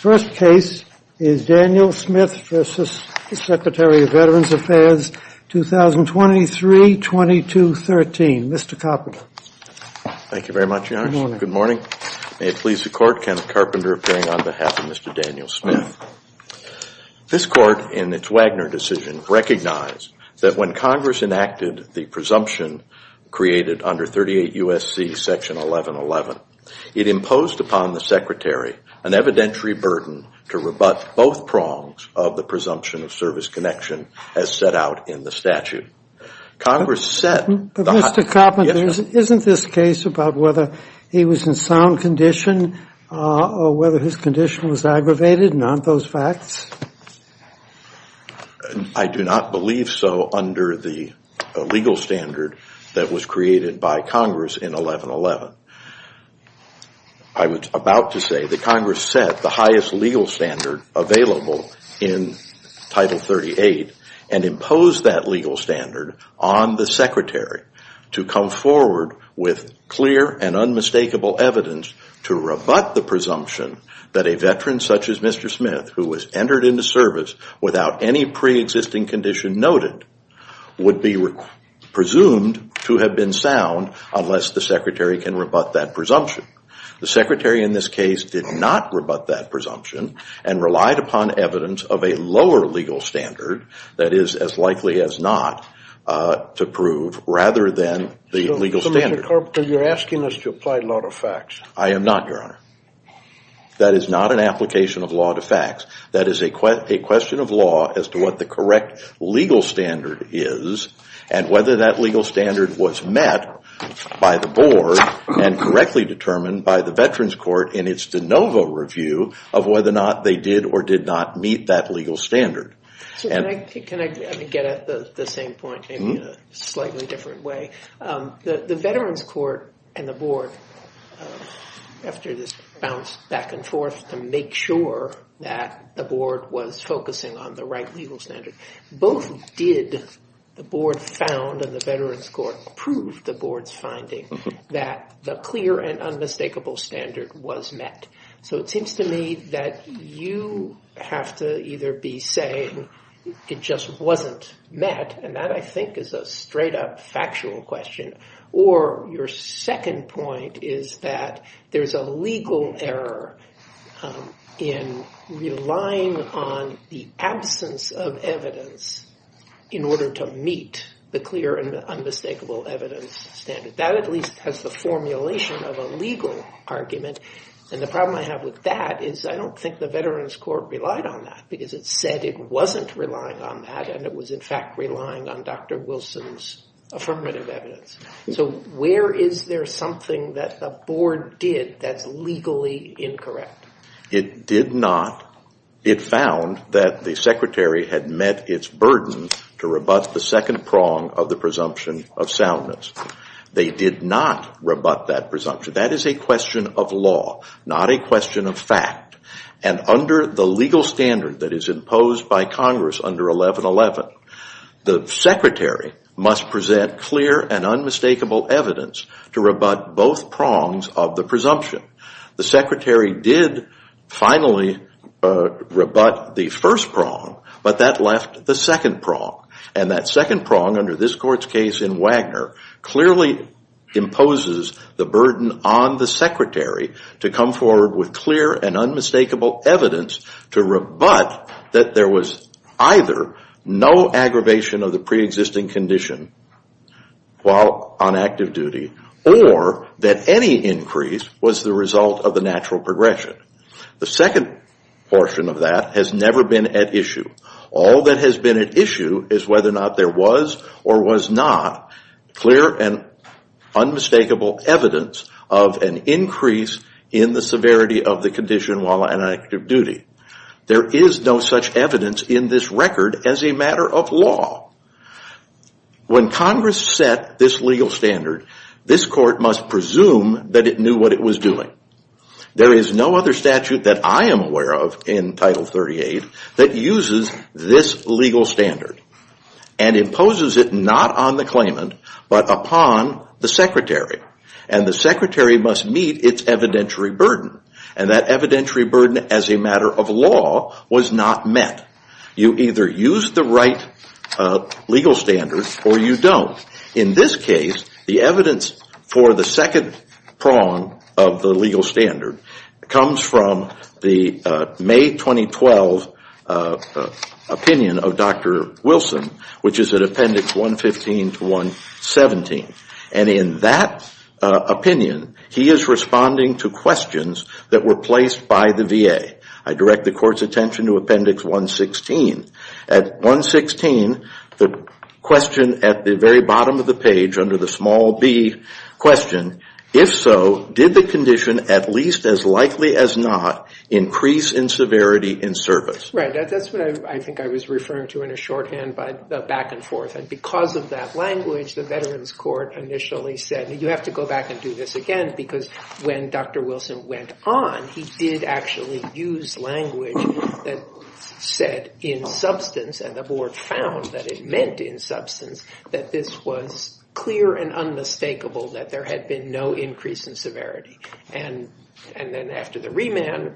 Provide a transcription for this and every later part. First case is Daniel Smith v. Secretary of Veterans Affairs, 2023-2013. Mr. Carpenter. Thank you very much, Your Honor. Good morning. May it please the Court, Kenneth Carpenter appearing on behalf of Mr. Daniel Smith. This Court, in its Wagner decision, recognized that when Congress enacted the presumption created under 38 U.S.C. section 1111, it imposed upon the Secretary an evidentiary burden to rebut both prongs of the presumption of service connection as set out in the statute. Congress set... But Mr. Carpenter, isn't this case about whether he was in sound condition or whether his condition was aggravated? Aren't those facts? I do not believe so under the legal standard that was created by Congress in 1111. I was about to say that Congress set the highest legal standard available in Title 38 and imposed that legal standard on the Secretary to come forward with clear and unmistakable evidence to rebut the presumption that a veteran such as Mr. Smith, who was entered into service without any pre-existing condition noted, would be presumed to have been sound unless the Secretary can rebut that presumption. The Secretary in this case did not rebut that presumption and relied upon evidence of a lower legal standard that is as likely as not to prove rather than the legal standard. Mr. Carpenter, you're asking us to apply law to facts. I am not, Your Honor. That is not an application of law to facts. That is a question of law as to what the correct legal standard is and whether that legal standard was met by the board and correctly determined by the Veterans Court in its de novo review of whether or not they did or did not meet that legal standard. Can I get at the same point in a slightly different way? The Veterans Court and the board, after this bounce back and forth to make sure that the board was focusing on the right legal standard, both did the board found and the Veterans Court proved the board's finding that the clear and unmistakable standard was met. It seems to me that you have to either be saying it just wasn't met, and that I think is a straight up factual question, or your second point is that there's a legal error in relying on the absence of evidence in order to meet the clear and unmistakable evidence standard. That at least has the formulation of a legal argument, and the problem I have with that is I don't think the Veterans Court relied on that because it said it wasn't relying on that and it was in fact relying on Dr. Wilson's affirmative evidence. So where is there something that the board did that's legally incorrect? It did not. It found that the secretary had met its burden to rebut the second prong of the presumption of soundness. They did not rebut that presumption. That is a question of law, not a question of fact, and under the legal standard that is imposed by Congress under 1111, the secretary must present clear and unmistakable evidence to rebut both prongs of the presumption. The secretary did finally rebut the first prong, but that left the second prong, and that second prong under this court's case in Wagner clearly imposes the burden on the secretary to come forward with clear and unmistakable evidence to rebut that there was either no aggravation of the preexisting condition while on active duty or that any increase was the result of the natural progression. The second portion of that has never been at issue. All that has been at issue is whether or not there was or was not clear and unmistakable evidence of an increase in the severity of the condition while on active duty. There is no such evidence in this record as a matter of law. When Congress set this legal standard, this court must presume that it knew what it was doing. There is no other statute that I am aware of in Title 38 that uses this legal standard and imposes it not on the claimant but upon the secretary, and the secretary must meet its evidentiary burden, and that evidentiary burden as a matter of law was not met. You either use the right legal standard or you don't. In this case, the evidence for the second prong of the legal standard comes from the May 2012 opinion of Dr. Wilson, which is at Appendix 115 to 117. And in that opinion, he is responding to questions that were placed by the VA. I direct the court's attention to Appendix 116. At 116, the question at the very bottom of the page under the small B question, if so, did the condition, at least as likely as not, increase in severity in service? Right. That's what I think I was referring to in a shorthand back and forth. And because of that language, the Veterans Court initially said, you have to go back and do this again because when Dr. Wilson went on, he did actually use language that said, in substance, and the board found that it meant in substance, that this was clear and unmistakable that there had been no increase in severity. And then after the remand,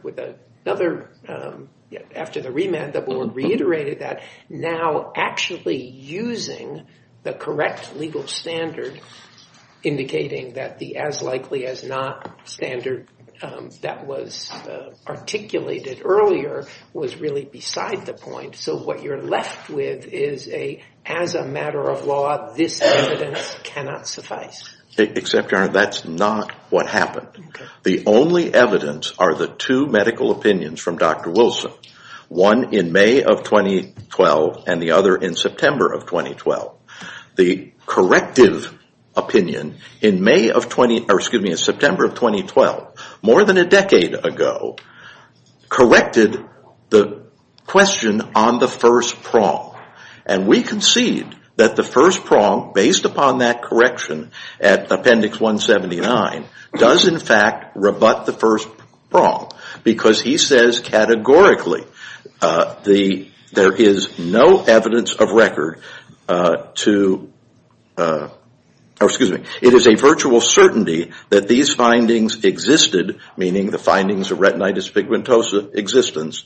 the board reiterated that now actually using the correct legal standard, indicating that the as likely as not standard that was articulated earlier was really beside the point. So what you're left with is a, as a matter of law, this evidence cannot suffice. Except, Your Honor, that's not what happened. The only evidence are the two medical opinions from Dr. Wilson, one in May of 2012 and the other in September of 2012. The corrective opinion in September of 2012, more than a decade ago, corrected the question on the first prong. And we concede that the first prong, based upon that correction at Appendix 179, does in fact rebut the first prong because he says categorically there is no evidence of record to, or excuse me, it is a virtual certainty that these findings existed, meaning the findings of retinitis pigmentosa existence,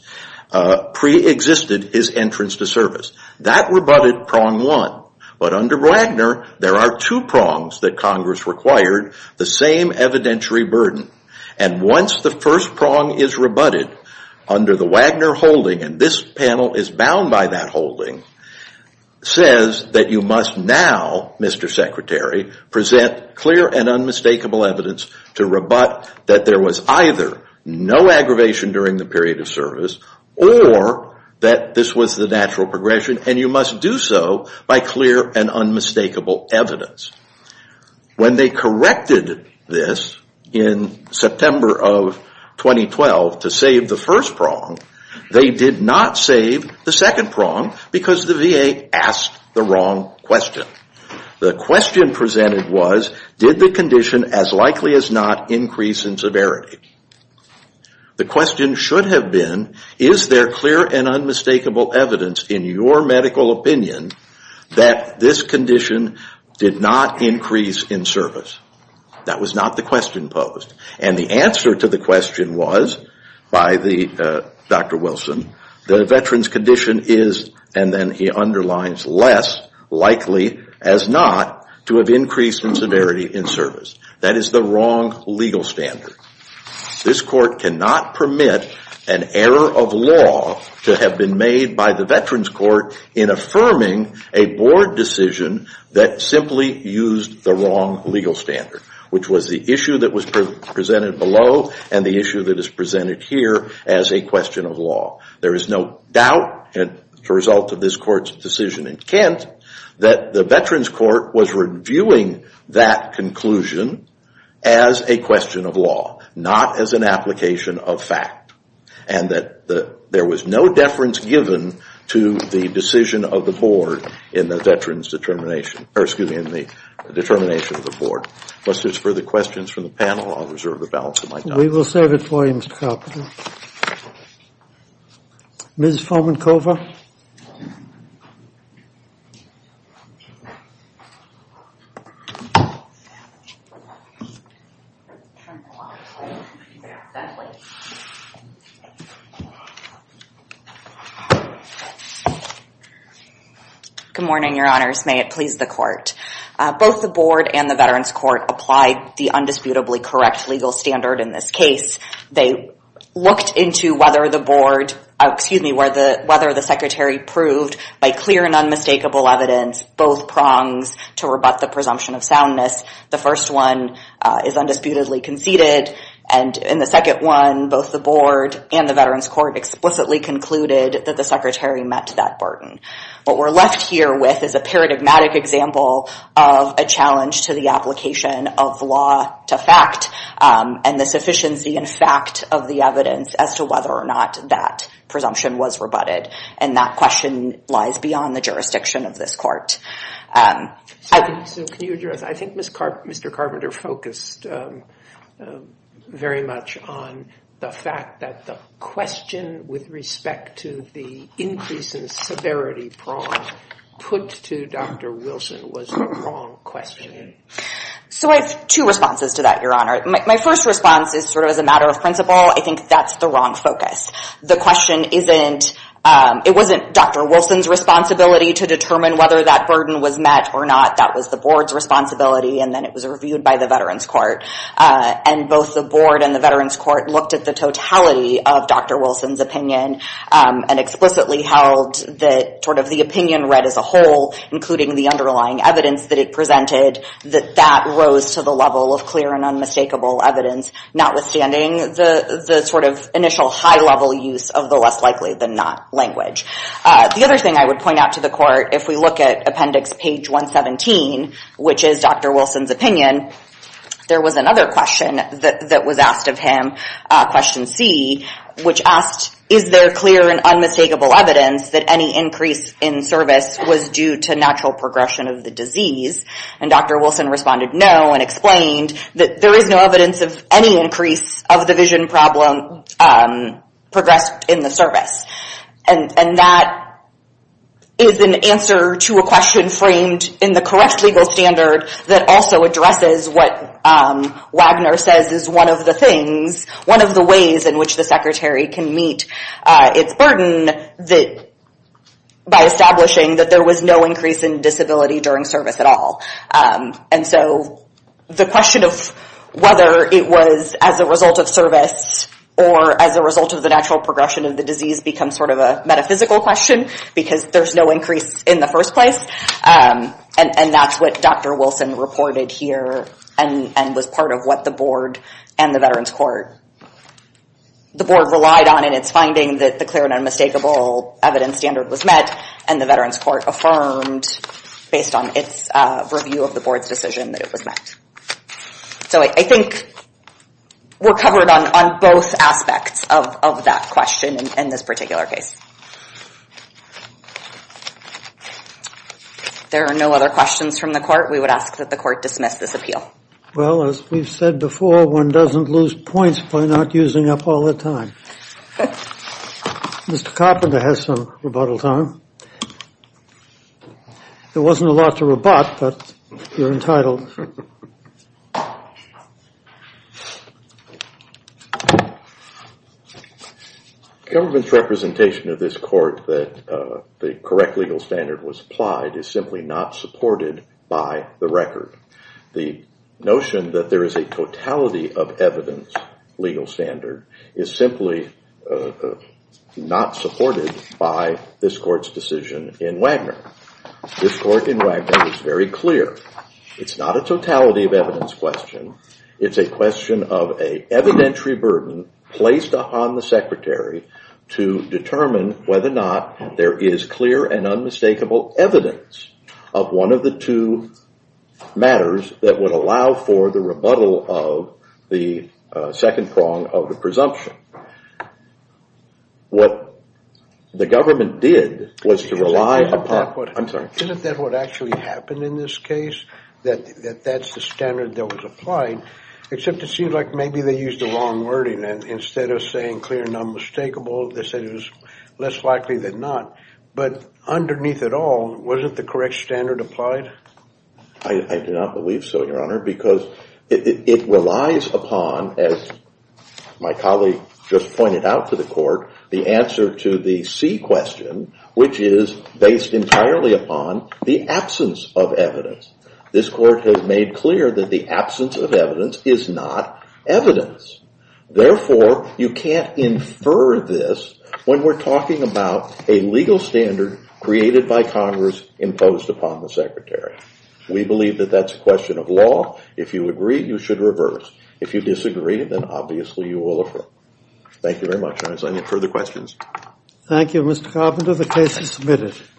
preexisted his entrance to service. That rebutted prong one. But under Wagner, there are two prongs that Congress required, the same evidentiary burden. And once the first prong is rebutted, under the Wagner holding, and this panel is bound by that holding, says that you must now, Mr. Secretary, present clear and unmistakable evidence to rebut that there was either no aggravation during the period of service or that this was the natural progression and you must do so by clear and unmistakable evidence. When they corrected this in September of 2012 to save the first prong, they did not save the second prong because the VA asked the wrong question. The question presented was, did the condition as likely as not increase in severity? The question should have been, is there clear and unmistakable evidence in your medical opinion that this condition did not increase in service? That was not the question posed. And the answer to the question was, by Dr. Wilson, the veteran's condition is, and then he underlines, less likely as not to have increased in severity in service. That is the wrong legal standard. This court cannot permit an error of law to have been made by the veteran's court in affirming a board decision that simply used the wrong legal standard, which was the issue that was presented here as a question of law. There is no doubt, and the result of this court's decision in Kent, that the veteran's court was reviewing that conclusion as a question of law, not as an application of fact. And that there was no deference given to the decision of the board in the veteran's determination, or excuse me, in the determination of the board. Unless there's further questions from the panel, I'll reserve the balance of my time. We will serve it for you, Mr. Carpenter. Ms. Fomenkova? Good morning, Your Honors. May it please the court. Both the board and the veteran's court applied the undisputably correct legal standard in this case. They looked into whether the board, excuse me, whether the secretary proved by clear and unmistakable evidence both prongs to rebut the presumption of soundness. The first one is undisputedly conceded, and in the second one, both the board and the veteran's court explicitly concluded that the secretary met that burden. What we're left here with is a paradigmatic example of a challenge to the application of law to fact, and the sufficiency in fact of the evidence as to whether or not that presumption was rebutted. And that question lies beyond the jurisdiction of this court. So can you address, I think Mr. Carpenter focused very much on the fact that the question with respect to the increase in severity prong put to Dr. Wilson was the wrong question. So I have two responses to that, Your Honor. My first response is sort of as a matter of principle, I think that's the wrong focus. The question isn't, it wasn't Dr. Wilson's responsibility to determine whether that burden was met or not. That was the board's responsibility, and then it was reviewed by the veteran's court. And both the board and the veteran's court looked at the totality of Dr. Wilson's opinion and explicitly held that sort of the opinion read as a whole, including the underlying evidence that it presented, that that rose to the level of clear and unmistakable evidence, notwithstanding the sort of initial high level use of the less likely than not language. The other thing I would point out to the court, if we look at appendix page 117, which is Dr. Wilson's opinion, there was another question that was asked of him, question C, which asked, is there clear and unmistakable evidence that any increase in service was due to natural progression of the disease? And Dr. Wilson responded no and explained that there is no evidence of any increase of the vision problem progressed in the service. And that is an answer to a question framed in the correct legal standard that also addresses what Wagner says is one of the things, one of the ways in which the secretary can meet its burden by establishing that there was no increase in disability during service at all. And so the question of whether it was as a result of service or as a result of the natural progression of the disease becomes sort of a metaphysical question because there's no increase in the first place. And that's what Dr. Wilson reported here and was part of what the board and the Veterans Court, the board relied on in its finding that the clear and unmistakable evidence standard was met and the Veterans Court affirmed based on its review of the board's decision that it was met. So I think we're covered on both aspects of that question in this particular case. There are no other questions from the court. We would ask that the court dismiss this appeal. Well, as we've said before, one doesn't lose points by not using up all the time. Mr. Carpenter has some rebuttal time. There wasn't a lot to rebut, but you're entitled. The government's representation of this court that the correct legal standard was applied is simply not supported by the record. The notion that there is a totality of evidence legal standard is simply not supported by this court's decision in Wagner. This court in Wagner is very clear. It's not a to determine whether or not there is clear and unmistakable evidence of one of the two matters that would allow for the rebuttal of the second prong of the presumption. What the government did was to rely upon... Isn't that what actually happened in this case? That that's the standard that was applied, except it seemed like maybe they used the wrong wording instead of saying clear and unmistakable. They said it was less likely than not, but underneath it all, wasn't the correct standard applied? I do not believe so, your honor, because it relies upon, as my colleague just pointed out to the court, the answer to the C question, which is based entirely upon the absence of evidence. This court has made clear that the absence of evidence is not evidence. Therefore, you can't infer this when we're talking about a legal standard created by Congress imposed upon the secretary. We believe that that's a question of law. If you agree, you should reverse. If you disagree, then obviously you will affirm. Thank you very much, your honor. Is there any further questions? Thank you, Mr. Carpenter. The case is submitted.